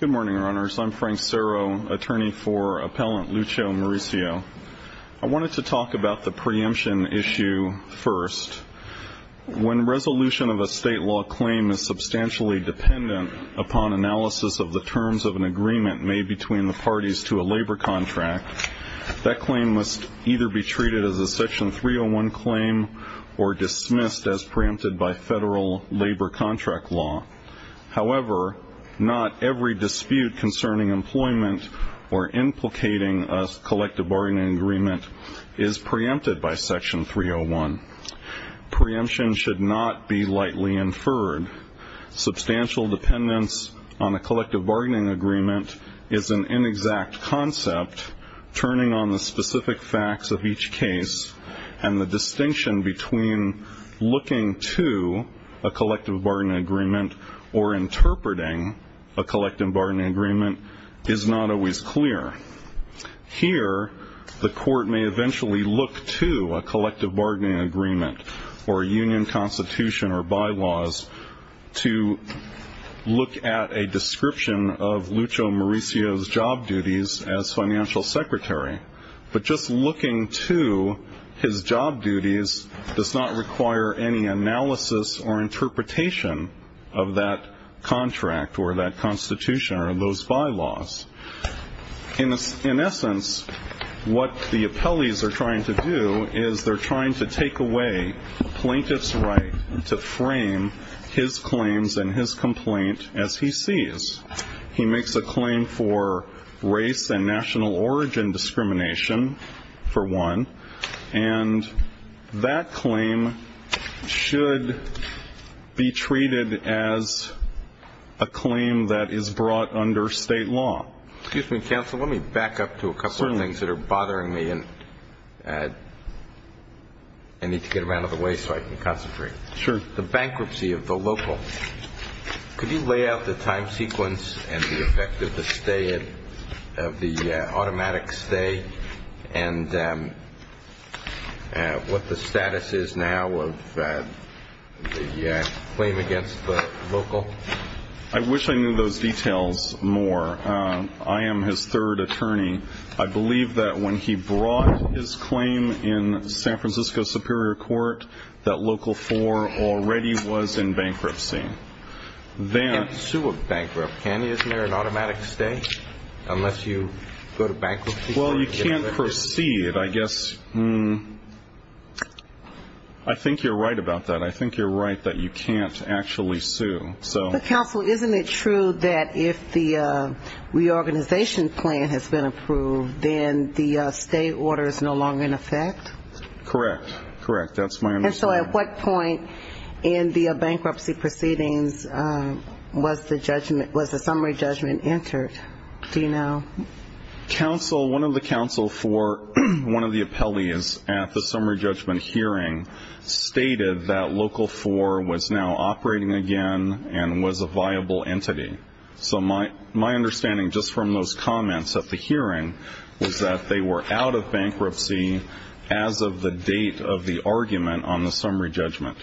Good morning, Runners. I'm Frank Cerro, attorney for Appellant Lucho Maricio. I wanted to talk about the preemption issue first. When resolution of a state law claim is substantially dependent upon analysis of the terms of an agreement made between the parties to a labor contract, that claim must either be treated as a Section 301 claim or dismissed as preempted by federal labor contract law. However, not every dispute concerning employment or implicating a collective bargaining agreement is preempted by Section 301. Preemption should not be lightly inferred. Substantial dependence on a collective bargaining agreement is an inexact concept, turning on the specific facts of each case and the distinction between looking to a collective bargaining agreement or interpreting a collective bargaining agreement is not always clear. Here, the court may eventually look to a collective bargaining agreement or a union constitution or bylaws to look at a description of Lucho Maricio's job duties as financial secretary. But just looking to his job duties does not require any analysis or interpretation of that contract or that constitution or those bylaws. In essence, what the appellees are trying to do is they're trying to take away plaintiff's right to frame his claims and his complaint as he sees. He makes a claim for race and national origin discrimination, for one. And that claim should be treated as a claim that is brought under state law. Excuse me, counsel. Let me back up to a couple of things that are bothering me and I need to get them out of the way so I can concentrate. Sure. The bankruptcy of the local. Could you lay out the time sequence and the effect of the stay, of the automatic stay, and what the status is now of the claim against the local? I wish I knew those details more. I am his third attorney. I believe that when he brought his claim in San Francisco Superior Court, that Local 4 already was in bankruptcy. You can't sue a bankruptcy, can you? Isn't there an automatic stay unless you go to bankruptcy? Well, you can't proceed, I guess. I think you're right about that. I think you're right that you can't actually sue. But, counsel, isn't it true that if the reorganization plan has been approved, then the stay order is no longer in effect? Correct. Correct. That's my understanding. And so at what point in the bankruptcy proceedings was the summary judgment entered? Do you know? Counsel, one of the counsel for one of the appellees at the summary judgment hearing stated that Local 4 was now operating again and was a viable entity. So my understanding just from those comments at the hearing was that they were out of bankruptcy as of the date of the argument on the summary judgment.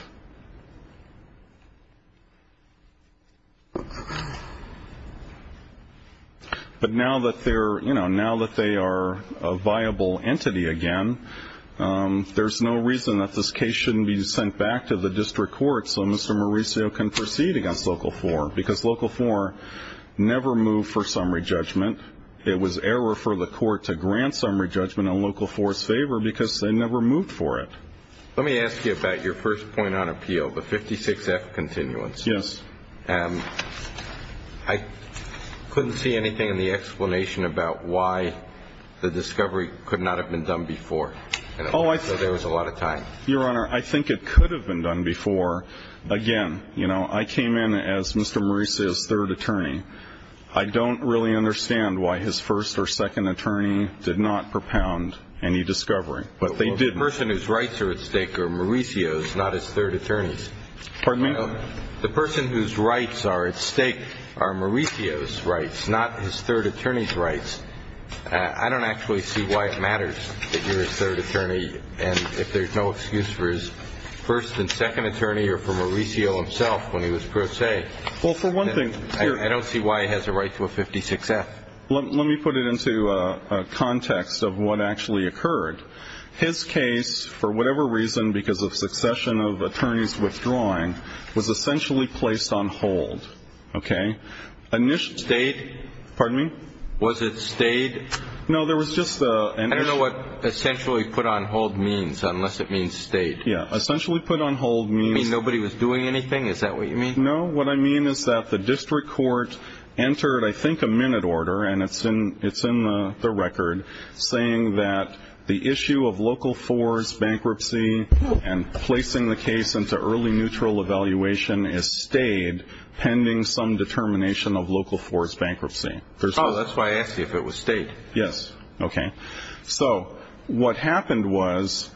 But now that they're, you know, now that they are a viable entity again, there's no reason that this case shouldn't be sent back to the district court so Mr. Mauricio can proceed against Local 4, because Local 4 never moved for summary judgment. It was error for the court to grant summary judgment on Local 4's favor because they never moved for it. Let me ask you about your first point on appeal, the 56F continuance. Yes. I couldn't see anything in the explanation about why the discovery could not have been done before. So there was a lot of time. Your Honor, I think it could have been done before. Again, you know, I came in as Mr. Mauricio's third attorney. I don't really understand why his first or second attorney did not propound any discovery, but they did. The person whose rights are at stake are Mauricio's, not his third attorney's. Pardon me? The person whose rights are at stake are Mauricio's rights, not his third attorney's rights. I don't actually see why it matters that you're his third attorney, and if there's no excuse for his first and second attorney or for Mauricio himself when he was pro se. Well, for one thing. I don't see why he has a right to a 56F. Let me put it into context of what actually occurred. His case, for whatever reason, because of succession of attorneys withdrawing, was essentially placed on hold. Okay? Stayed? Pardon me? Was it stayed? No, there was just an issue. I don't know what essentially put on hold means, unless it means stayed. Yeah. Essentially put on hold means. You mean nobody was doing anything? Is that what you mean? No. What I mean is that the district court entered, I think, a minute order, and it's in the record, saying that the issue of Local 4's bankruptcy and placing the case into early neutral evaluation is stayed pending some determination of Local 4's bankruptcy. Oh, that's why I asked you if it was stayed. Yes. Okay. So what happened was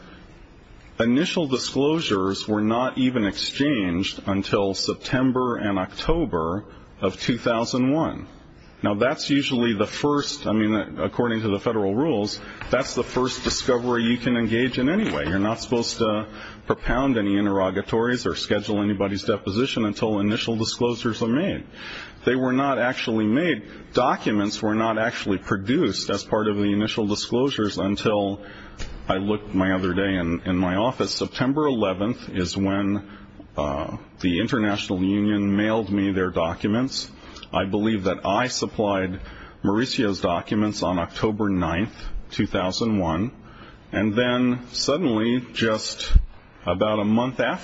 initial disclosures were not even exchanged until September and October of 2001. Now, that's usually the first, I mean, according to the federal rules, that's the first discovery you can engage in anyway. You're not supposed to propound any interrogatories or schedule anybody's deposition until initial disclosures are made. They were not actually made. Documents were not actually produced as part of the initial disclosures until I looked my other day in my office. September 11th is when the International Union mailed me their documents. I believe that I supplied Mauricio's documents on October 9th, 2001, and then suddenly just about a month or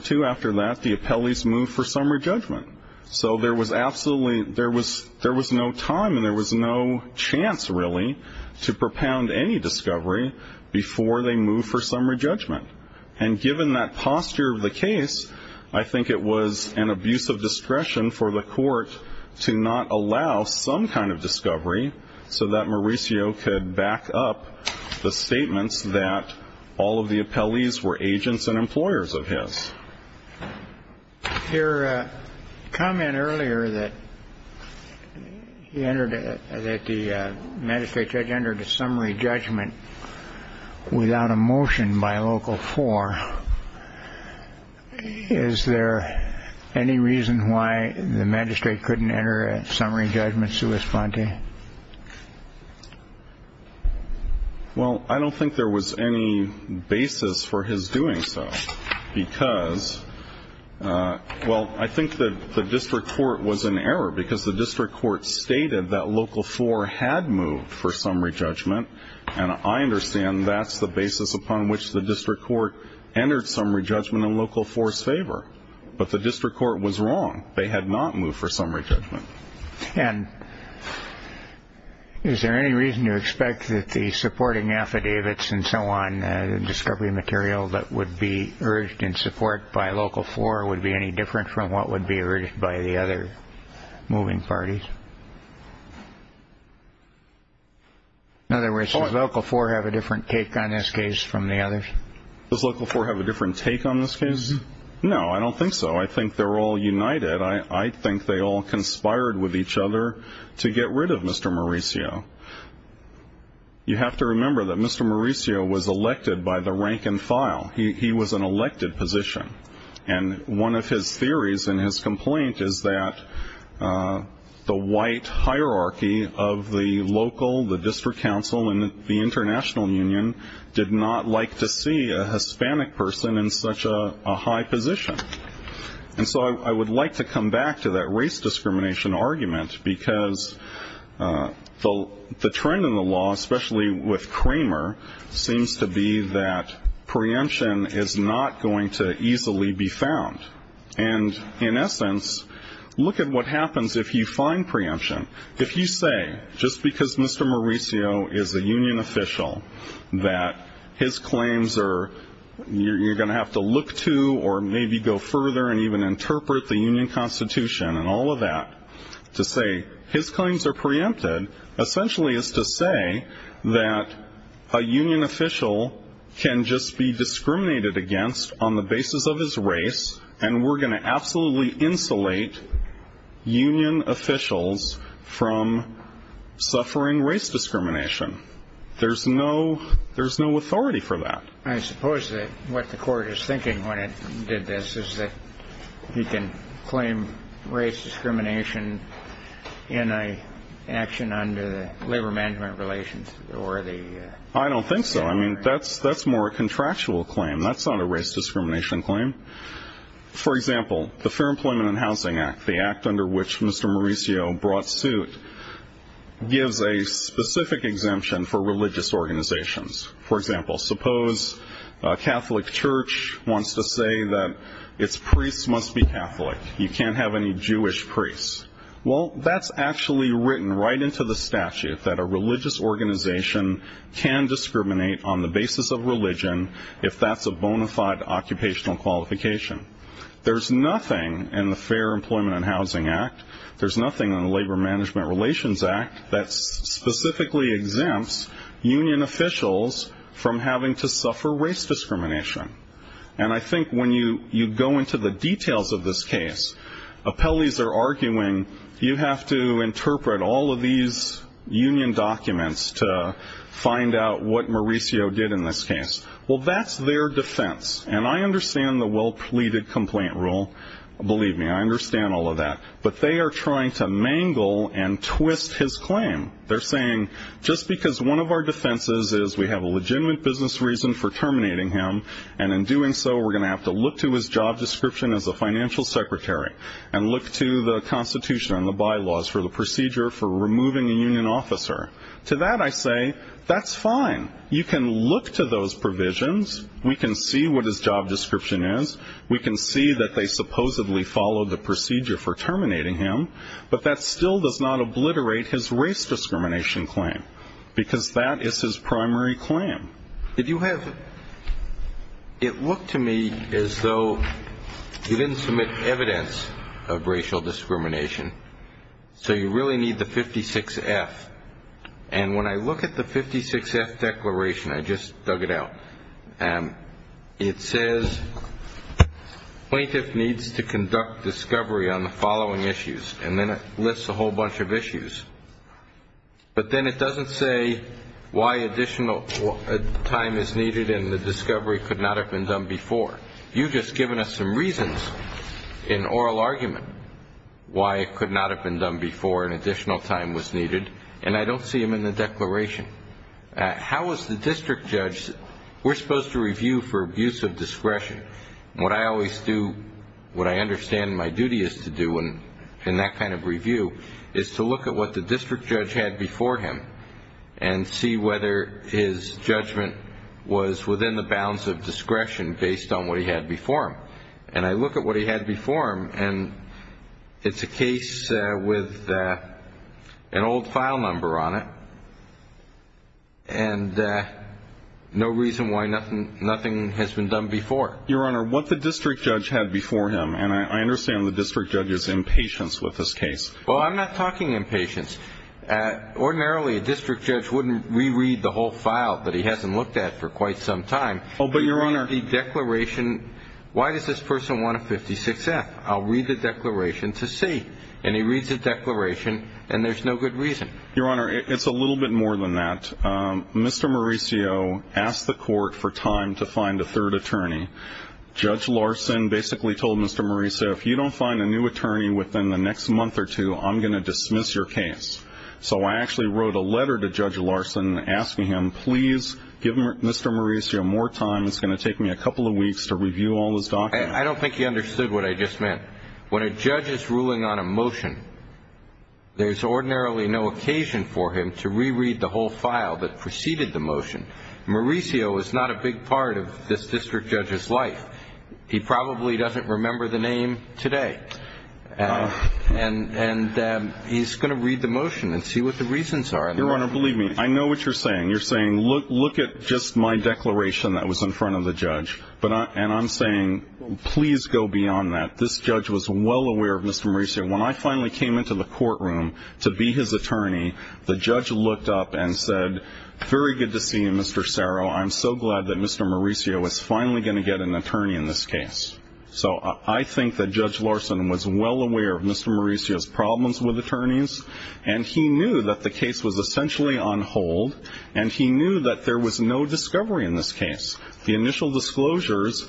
two after that, the appellees moved for summary judgment. So there was no time and there was no chance, really, to propound any discovery before they moved for summary judgment. And given that posture of the case, I think it was an abuse of discretion for the court to not allow some kind of discovery so that Mauricio could back up the statements that all of the appellees were agents and employers of his. Your comment earlier that the magistrate judge entered a summary judgment without a motion by Local 4, is there any reason why the magistrate couldn't enter a summary judgment sua sponte? Well, I don't think there was any basis for his doing so because, well, I think the district court was in error because the district court stated that Local 4 had moved for summary judgment, and I understand that's the basis upon which the district court entered summary judgment in Local 4's favor. But the district court was wrong. They had not moved for summary judgment. And is there any reason to expect that the supporting affidavits and so on, the discovery material that would be urged in support by Local 4, would be any different from what would be urged by the other moving parties? In other words, does Local 4 have a different take on this case from the others? Does Local 4 have a different take on this case? No, I don't think so. I think they're all united. I think they all conspired with each other to get rid of Mr. Mauricio. You have to remember that Mr. Mauricio was elected by the rank and file. He was an elected position. And one of his theories in his complaint is that the white hierarchy of the local, the district council, and the international union did not like to see a Hispanic person in such a high position. And so I would like to come back to that race discrimination argument, because the trend in the law, especially with Cramer, seems to be that preemption is not going to easily be found. And in essence, look at what happens if you find preemption. If you say, just because Mr. Mauricio is a union official, that his claims are, you're going to have to look to or maybe go further and even interpret the union constitution and all of that, to say his claims are preempted, essentially is to say that a union official can just be discriminated against on the basis of his race, and we're going to absolutely insulate union officials from suffering race discrimination. There's no authority for that. I suppose that what the court is thinking when it did this is that you can claim race discrimination in an action under the labor management relations or the... I don't think so. I mean, that's more a contractual claim. That's not a race discrimination claim. For example, the Fair Employment and Housing Act, the act under which Mr. Mauricio brought suit, gives a specific exemption for religious organizations. For example, suppose a Catholic church wants to say that its priests must be Catholic. You can't have any Jewish priests. Well, that's actually written right into the statute, that a religious organization can discriminate on the basis of religion if that's a bona fide occupational qualification. There's nothing in the Fair Employment and Housing Act, there's nothing in the Labor Management Relations Act, that specifically exempts union officials from having to suffer race discrimination. And I think when you go into the details of this case, appellees are arguing you have to interpret all of these union documents to find out what Mauricio did in this case. Well, that's their defense. And I understand the well-pleaded complaint rule. Believe me, I understand all of that. But they are trying to mangle and twist his claim. They're saying, just because one of our defenses is we have a legitimate business reason for terminating him, and in doing so we're going to have to look to his job description as a financial secretary, and look to the Constitution and the bylaws for the procedure for removing a union officer. To that I say, that's fine. You can look to those provisions. We can see what his job description is. We can see that they supposedly followed the procedure for terminating him. But that still does not obliterate his race discrimination claim, because that is his primary claim. It looked to me as though you didn't submit evidence of racial discrimination, so you really need the 56-F. And when I look at the 56-F declaration, I just dug it out, it says plaintiff needs to conduct discovery on the following issues. And then it lists a whole bunch of issues. But then it doesn't say why additional time is needed and the discovery could not have been done before. You've just given us some reasons in oral argument why it could not have been done before and additional time was needed, and I don't see them in the declaration. How is the district judge? We're supposed to review for abuse of discretion. What I always do, what I understand my duty is to do in that kind of review, is to look at what the district judge had before him and see whether his judgment was within the bounds of discretion based on what he had before him. And I look at what he had before him, and it's a case with an old file number on it and no reason why nothing has been done before. Your Honor, what the district judge had before him, and I understand the district judge is impatient with this case. Well, I'm not talking impatience. Ordinarily, a district judge wouldn't reread the whole file that he hasn't looked at for quite some time. Why does this person want a 56F? I'll read the declaration to see. And he reads the declaration, and there's no good reason. Your Honor, it's a little bit more than that. Mr. Mauricio asked the court for time to find a third attorney. Judge Larson basically told Mr. Mauricio, if you don't find a new attorney within the next month or two, I'm going to dismiss your case. So I actually wrote a letter to Judge Larson asking him, please give Mr. Mauricio more time. It's going to take me a couple of weeks to review all his documents. I don't think he understood what I just meant. When a judge is ruling on a motion, there's ordinarily no occasion for him to reread the whole file that preceded the motion. Mauricio is not a big part of this district judge's life. He probably doesn't remember the name today. And he's going to read the motion and see what the reasons are. Your Honor, believe me, I know what you're saying. You're saying, look at just my declaration that was in front of the judge. And I'm saying, please go beyond that. This judge was well aware of Mr. Mauricio. When I finally came into the courtroom to be his attorney, the judge looked up and said, very good to see you, Mr. Saro. I'm so glad that Mr. Mauricio is finally going to get an attorney in this case. So I think that Judge Larson was well aware of Mr. Mauricio's problems with attorneys, and he knew that the case was essentially on hold, and he knew that there was no discovery in this case. The initial disclosures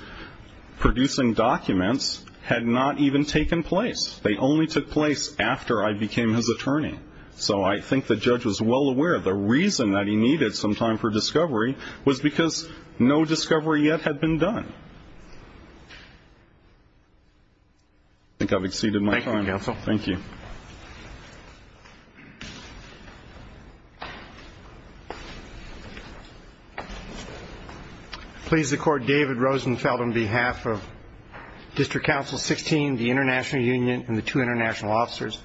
producing documents had not even taken place. They only took place after I became his attorney. So I think the judge was well aware. The reason that he needed some time for discovery was because no discovery yet had been done. I think I've exceeded my time. Thank you, counsel. Thank you. Please record David Rosenfeld on behalf of District Counsel 16, the International Union, and the two international officers.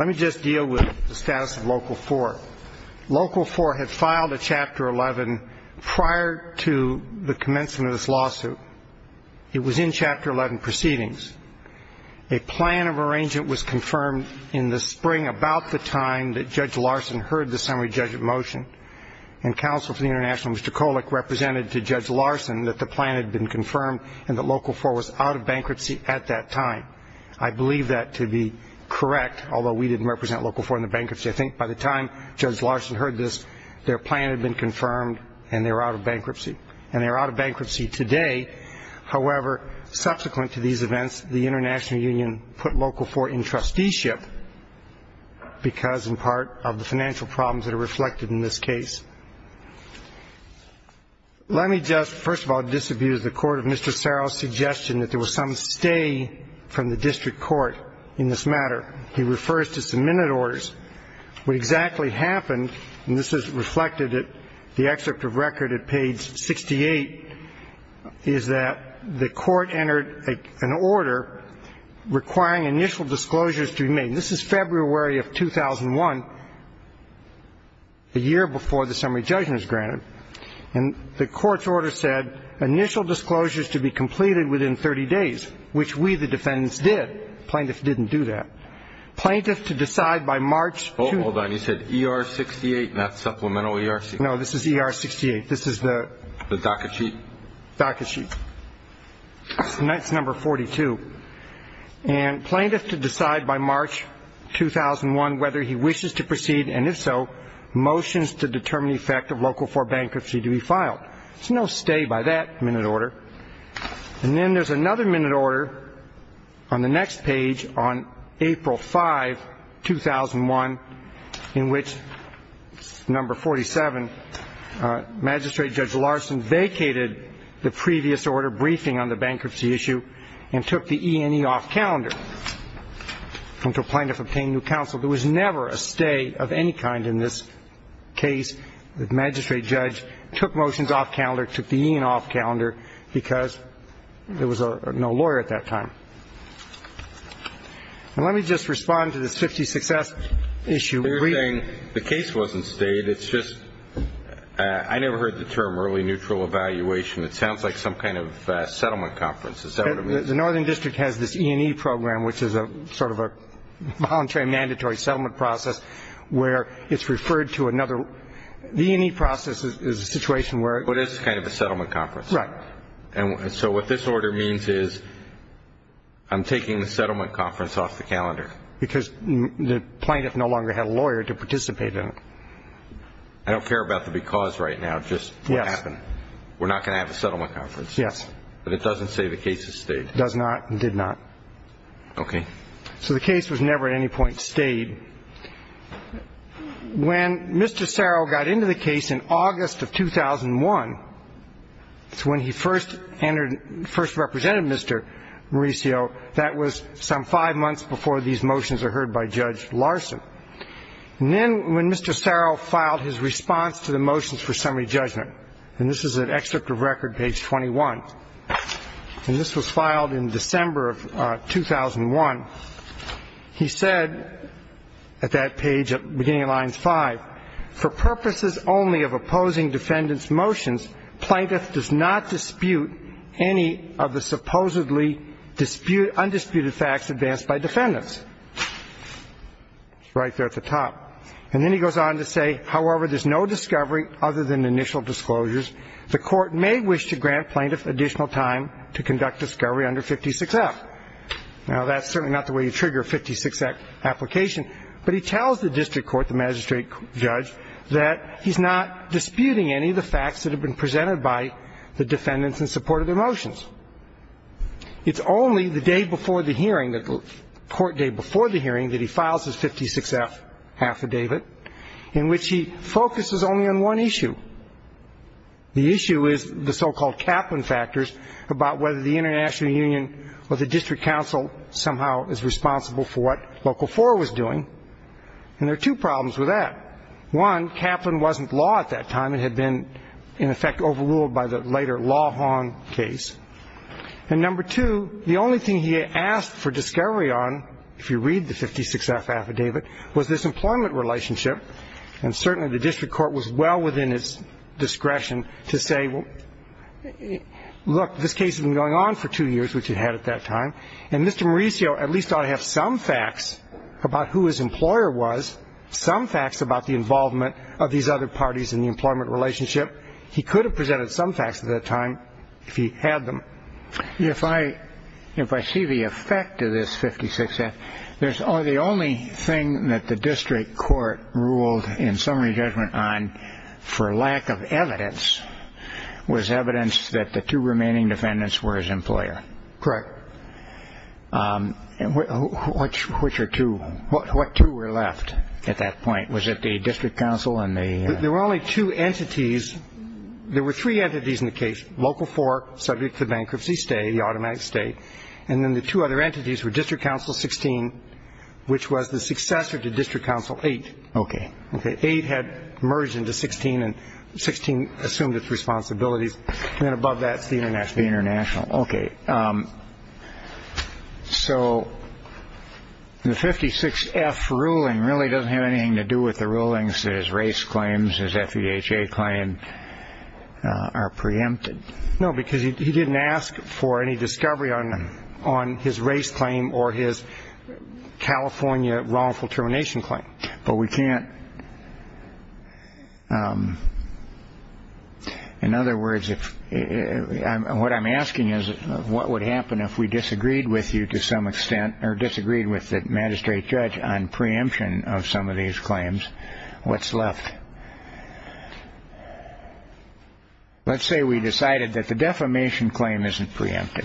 Let me just deal with the status of Local 4. Local 4 had filed a Chapter 11 prior to the commencement of this lawsuit. It was in Chapter 11 proceedings. A plan of arrangement was confirmed in the spring, about the time that Judge Larson heard the summary judgment motion, and counsel from the international, Mr. Kolick, represented to Judge Larson that the plan had been confirmed and that Local 4 was out of bankruptcy at that time. I believe that to be correct, although we didn't represent Local 4 in the bankruptcy. I think by the time Judge Larson heard this, their plan had been confirmed and they were out of bankruptcy, and they're out of bankruptcy today. However, subsequent to these events, the international union put Local 4 in trusteeship because, in part, of the financial problems that are reflected in this case. Let me just, first of all, Mr. Sarrell's suggestion that there was some stay from the district court in this matter. He refers to some minute orders. What exactly happened, and this is reflected at the excerpt of record at page 68, is that the court entered an order requiring initial disclosures to be made. This is February of 2001, a year before the summary judgment was granted. And the court's order said initial disclosures to be completed within 30 days, which we, the defendants, did. Plaintiffs didn't do that. Plaintiffs to decide by March 2. Hold on. You said ER 68, not supplemental ER 68? No, this is ER 68. This is the? The docket sheet. Docket sheet. And that's number 42. And plaintiffs to decide by March 2001 whether he wishes to proceed, and if so, motions to determine the effect of Local 4 bankruptcy to be filed. There's no stay by that minute order. And then there's another minute order on the next page on April 5, 2001, in which number 47, Magistrate Judge Larson vacated the previous order briefing on the bankruptcy issue and took the E&E off calendar until plaintiffs obtained new counsel. There was never a stay of any kind in this case. The magistrate judge took motions off calendar, took the E&E off calendar, because there was no lawyer at that time. And let me just respond to this 50 success issue. You're saying the case wasn't stayed. It's just I never heard the term early neutral evaluation. It sounds like some kind of settlement conference. Is that what it means? The northern district has this E&E program, which is sort of a voluntary mandatory settlement process where it's referred to another. The E&E process is a situation where it's kind of a settlement conference. Right. And so what this order means is I'm taking the settlement conference off the calendar. Because the plaintiff no longer had a lawyer to participate in it. I don't care about the because right now, just what happened. We're not going to have a settlement conference. Yes. But it doesn't say the case is stayed. It does not. It did not. Okay. So the case was never at any point stayed. When Mr. Saro got into the case in August of 2001, that's when he first entered and first represented Mr. Mauricio, that was some five months before these motions were heard by Judge Larson. And then when Mr. Saro filed his response to the motions for summary judgment, and this is an excerpt of record, page 21, and this was filed in December of 2001, he said at that page at the beginning of line five, for purposes only of opposing defendant's motions, plaintiff does not dispute any of the supposedly undisputed facts advanced by defendants. It's right there at the top. And then he goes on to say, however, there's no discovery other than initial disclosures. The court may wish to grant plaintiff additional time to conduct discovery under 56F. Now, that's certainly not the way you trigger a 56F application, but he tells the district court, the magistrate judge, that he's not disputing any of the facts that have been presented by the defendants in support of the motions. It's only the day before the hearing, the court day before the hearing, that he files his 56F affidavit in which he focuses only on one issue. The issue is the so-called Kaplan factors about whether the international union or the district council somehow is responsible for what Local 4 was doing. And there are two problems with that. One, Kaplan wasn't law at that time. It had been, in effect, overruled by the later Lawhorn case. And number two, the only thing he asked for discovery on, if you read the 56F affidavit, was this employment relationship. And certainly the district court was well within its discretion to say, look, this case had been going on for two years, which it had at that time, and Mr. Mauricio at least ought to have some facts about who his employer was, some facts about the involvement of these other parties in the employment relationship. He could have presented some facts at that time if he had them. If I see the effect of this 56F, the only thing that the district court ruled in summary judgment on for lack of evidence was evidence that the two remaining defendants were his employer. Correct. Which are two? What two were left at that point? Was it the district council and the? There were only two entities. There were three entities in the case. Local four, subject to bankruptcy stay, the automatic stay. And then the two other entities were district council 16, which was the successor to district council eight. Okay. Eight had merged into 16, and 16 assumed its responsibilities. And then above that is the international. The international. Okay. So the 56F ruling really doesn't have anything to do with the rulings that his race claims, his FEHA claim are preempted. No, because he didn't ask for any discovery on his race claim or his California wrongful termination claim. But we can't. In other words, what I'm asking is, what would happen if we disagreed with you to some extent or disagreed with the magistrate judge on preemption of some of these claims? What's left? Let's say we decided that the defamation claim isn't preempted.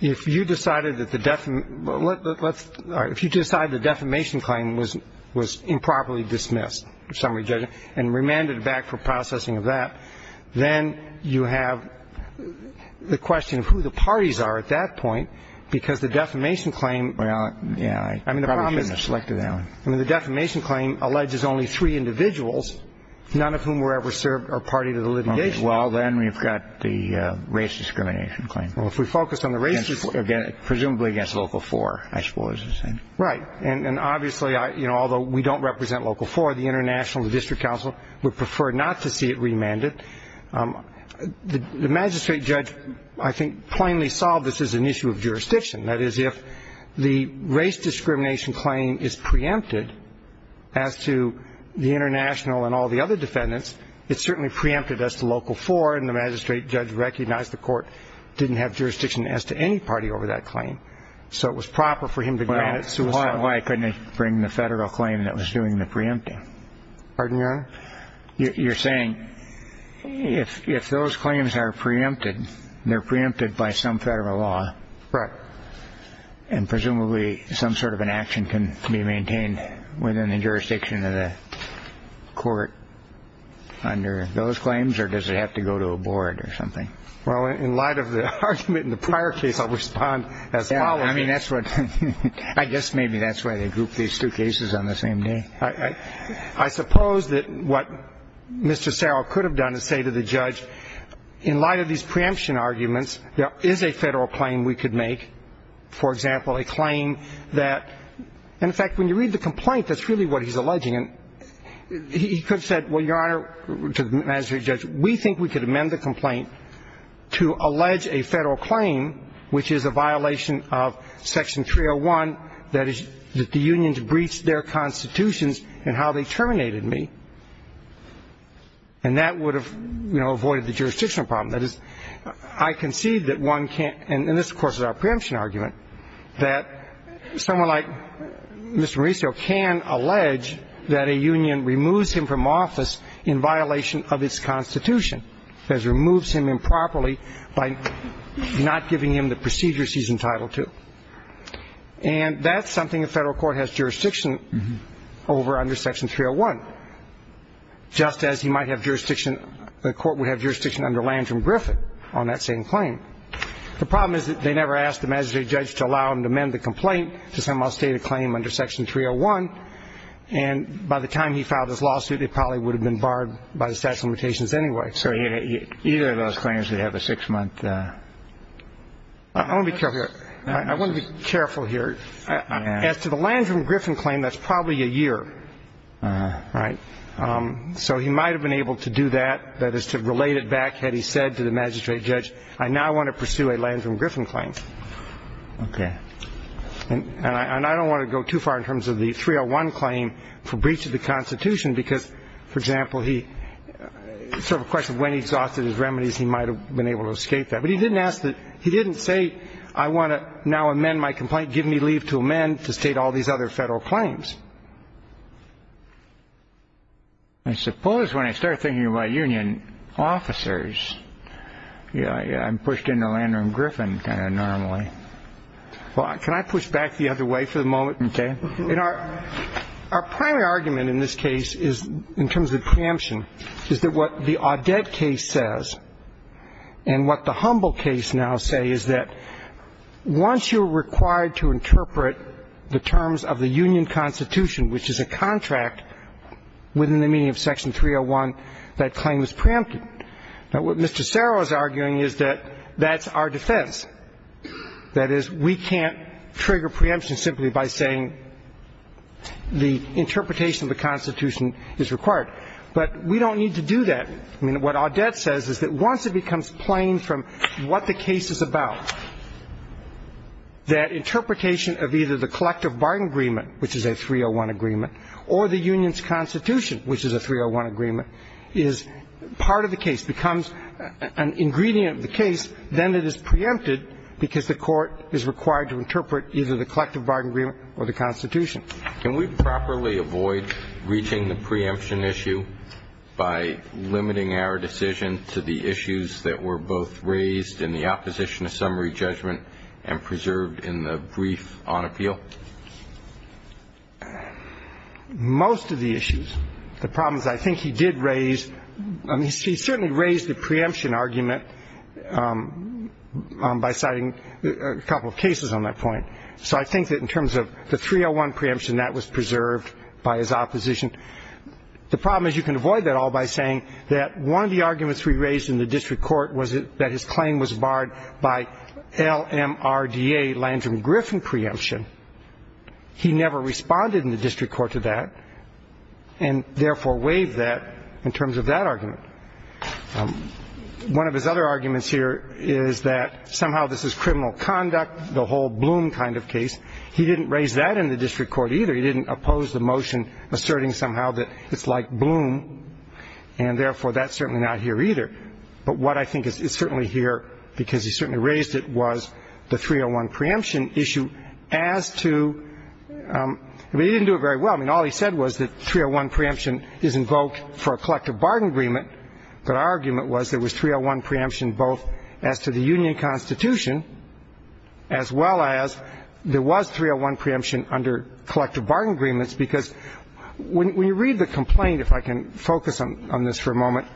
If you decided that the defamation claim was improperly dismissed, the summary judgment, and remanded it back for processing of that, then you have the question of who the parties are at that point, because the defamation claim. Well, yeah, I probably shouldn't have selected that one. I mean, the defamation claim alleges only three individuals, none of whom were ever served or party to the litigation. Well, then we've got the race discrimination claim. Well, if we focus on the race, presumably against Local 4, I suppose. Right. And obviously, you know, although we don't represent Local 4, the international district council would prefer not to see it remanded. The magistrate judge, I think, plainly solved this as an issue of jurisdiction. That is, if the race discrimination claim is preempted as to the international and all the other defendants, it's certainly preempted as to Local 4, and the magistrate judge recognized the court didn't have jurisdiction as to any party over that claim. So it was proper for him to grant it suitably. Why couldn't he bring the federal claim that was doing the preempting? Pardon, Your Honor? You're saying if those claims are preempted, they're preempted by some federal law. Right. And presumably some sort of an action can be maintained within the jurisdiction of the court under those claims, or does it have to go to a board or something? Well, in light of the argument in the prior case, I'll respond as follows. Yeah, I mean, that's what – I guess maybe that's why they grouped these two cases on the same day. I suppose that what Mr. Sarrell could have done is say to the judge, in light of these preemption arguments, there is a federal claim we could make, for example, a claim that – and, in fact, when you read the complaint, that's really what he's alleging. And he could have said, well, Your Honor, to the magistrate judge, we think we could amend the complaint to allege a federal claim, which is a violation of Section 301, that is that the unions breached their constitutions and how they terminated me. And that would have, you know, avoided the jurisdictional problem. That is, I concede that one can't – and this, of course, is our preemption argument – that someone like Mr. Mauricio can allege that a union removes him from office in violation of its constitution. That is, removes him improperly by not giving him the procedures he's entitled to. And that's something a federal court has jurisdiction over under Section 301. Just as he might have jurisdiction – the court would have jurisdiction under Landrum-Griffin on that same claim. The problem is that they never asked the magistrate judge to allow him to amend the complaint to somehow state a claim under Section 301. And by the time he filed his lawsuit, it probably would have been barred by the statute of limitations anyway. So either of those claims would have a six-month – I want to be careful here. I want to be careful here. As to the Landrum-Griffin claim, that's probably a year. All right. So he might have been able to do that, that is, to relate it back, had he said to the magistrate judge, I now want to pursue a Landrum-Griffin claim. Okay. And I don't want to go too far in terms of the 301 claim for breach of the Constitution, because, for example, he – sort of a question of when he exhausted his remedies, he might have been able to escape that. But he didn't ask the – he didn't say, I want to now amend my complaint. Give me leave to amend to state all these other federal claims. I suppose when I start thinking about union officers, you know, I'm pushed into Landrum-Griffin kind of normally. Well, can I push back the other way for the moment, okay? Our primary argument in this case is, in terms of preemption, is that what the Audet case says and what the Humble case now say is that once you're required to interpret the terms of the union constitution, which is a contract within the meaning of section 301, that claim is preempted. Now, what Mr. Cerro is arguing is that that's our defense. That is, we can't trigger preemption simply by saying the interpretation of the Constitution is required. But we don't need to do that. I mean, what Audet says is that once it becomes plain from what the case is about, that interpretation of either the collective bargain agreement, which is a 301 agreement, or the union's constitution, which is a 301 agreement, is part of the case, becomes an ingredient of the case, then it is preempted because the court is required to interpret either the collective bargain agreement or the Constitution. Can we properly avoid reaching the preemption issue by limiting our decision to the issues that were both raised in the opposition to summary judgment and preserved in the brief on appeal? Most of the issues, the problems I think he did raise, he certainly raised the preemption argument by citing a couple of cases on that point. So I think that in terms of the 301 preemption, that was preserved by his opposition. The problem is you can avoid that all by saying that one of the arguments we raised in the district court was that his claim was barred by LMRDA Landry Griffin preemption. He never responded in the district court to that and therefore waived that in terms of that argument. One of his other arguments here is that somehow this is criminal conduct, the whole Bloom kind of case. He didn't raise that in the district court either. He didn't oppose the motion asserting somehow that it's like Bloom and therefore that's certainly not here either. But what I think is certainly here because he certainly raised it was the 301 preemption issue as to ‑‑ he didn't do it very well. I mean, all he said was that 301 preemption is invoked for a collective bargain agreement, but our argument was there was 301 preemption both as to the union constitution as well as there was 301 preemption under collective bargain agreements because when you read the complaint, if I can focus on this for a moment,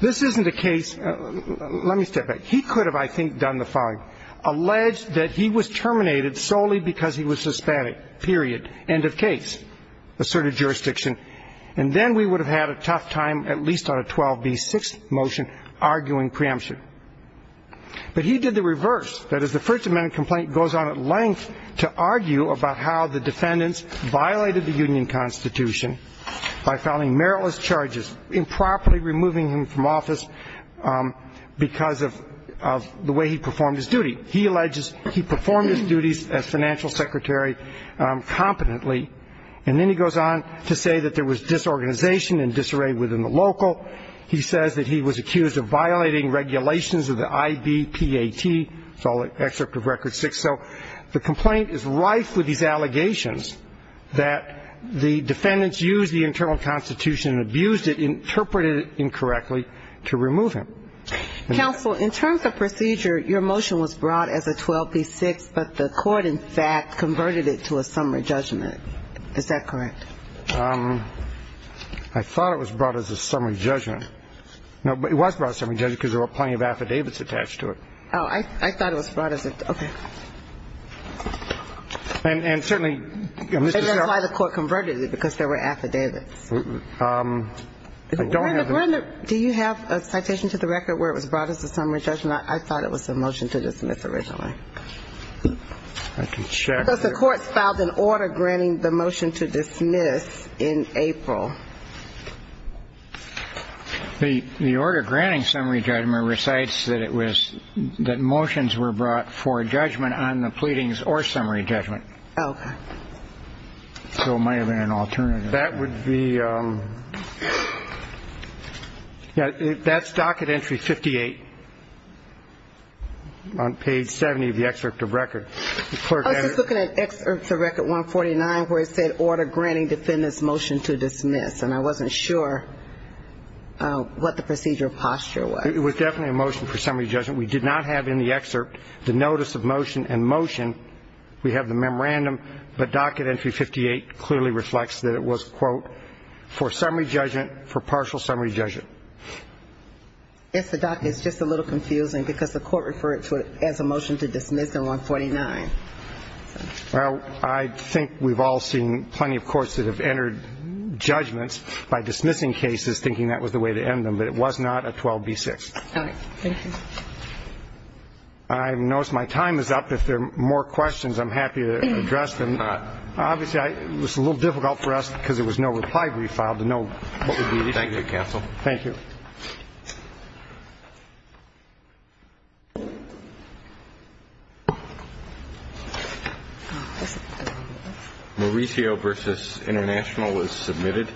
this isn't a case ‑‑ let me step back. He could have, I think, done the following, alleged that he was terminated solely because he was Hispanic, period, end of case, asserted jurisdiction, and then we would have had a tough time at least on a 12b6 motion arguing preemption. But he did the reverse, that is the First Amendment complaint goes on at length to argue about how the defendants violated the union constitution by filing meritless charges, improperly removing him from office because of the way he performed his duty. He alleges he performed his duties as financial secretary competently and then he goes on to say that there was disorganization and disarray within the local. He says that he was accused of violating regulations of the IBPAT, it's all an excerpt of record six. So the complaint is rife with these allegations that the defendants used the internal constitution and abused it, interpreted it incorrectly to remove him. Counsel, in terms of procedure, your motion was brought as a 12b6, but the court, in fact, converted it to a summary judgment. Is that correct? I thought it was brought as a summary judgment. No, but it was brought as a summary judgment because there were plenty of affidavits attached to it. Oh, I thought it was brought as a, okay. And certainly, Mr. Sheriff. That's why the court converted it, because there were affidavits. I don't have the. Do you have a citation to the record where it was brought as a summary judgment? I thought it was a motion to dismiss originally. I can check. Because the court filed an order granting the motion to dismiss in April. The order granting summary judgment recites that it was, that motions were brought for judgment on the pleadings or summary judgment. Okay. So it might have been an alternative. That would be, yeah, that's docket entry 58 on page 70 of the excerpt of record. I was just looking at excerpt to record 149 where it said order granting defendants motion to dismiss, and I wasn't sure what the procedural posture was. It was definitely a motion for summary judgment. We did not have in the excerpt the notice of motion and motion. We have the memorandum, but docket entry 58 clearly reflects that it was, quote, for summary judgment, for partial summary judgment. Yes, the docket is just a little confusing because the court referred to it as a motion to dismiss in 149. Well, I think we've all seen plenty of courts that have entered judgments by dismissing cases, thinking that was the way to end them, but it was not a 12B6. All right. Thank you. I notice my time is up. If there are more questions, I'm happy to address them. Obviously, it was a little difficult for us because there was no reply brief filed to know what would be issued. Thank you, counsel. Thank you. Mauricio v. International is submitted.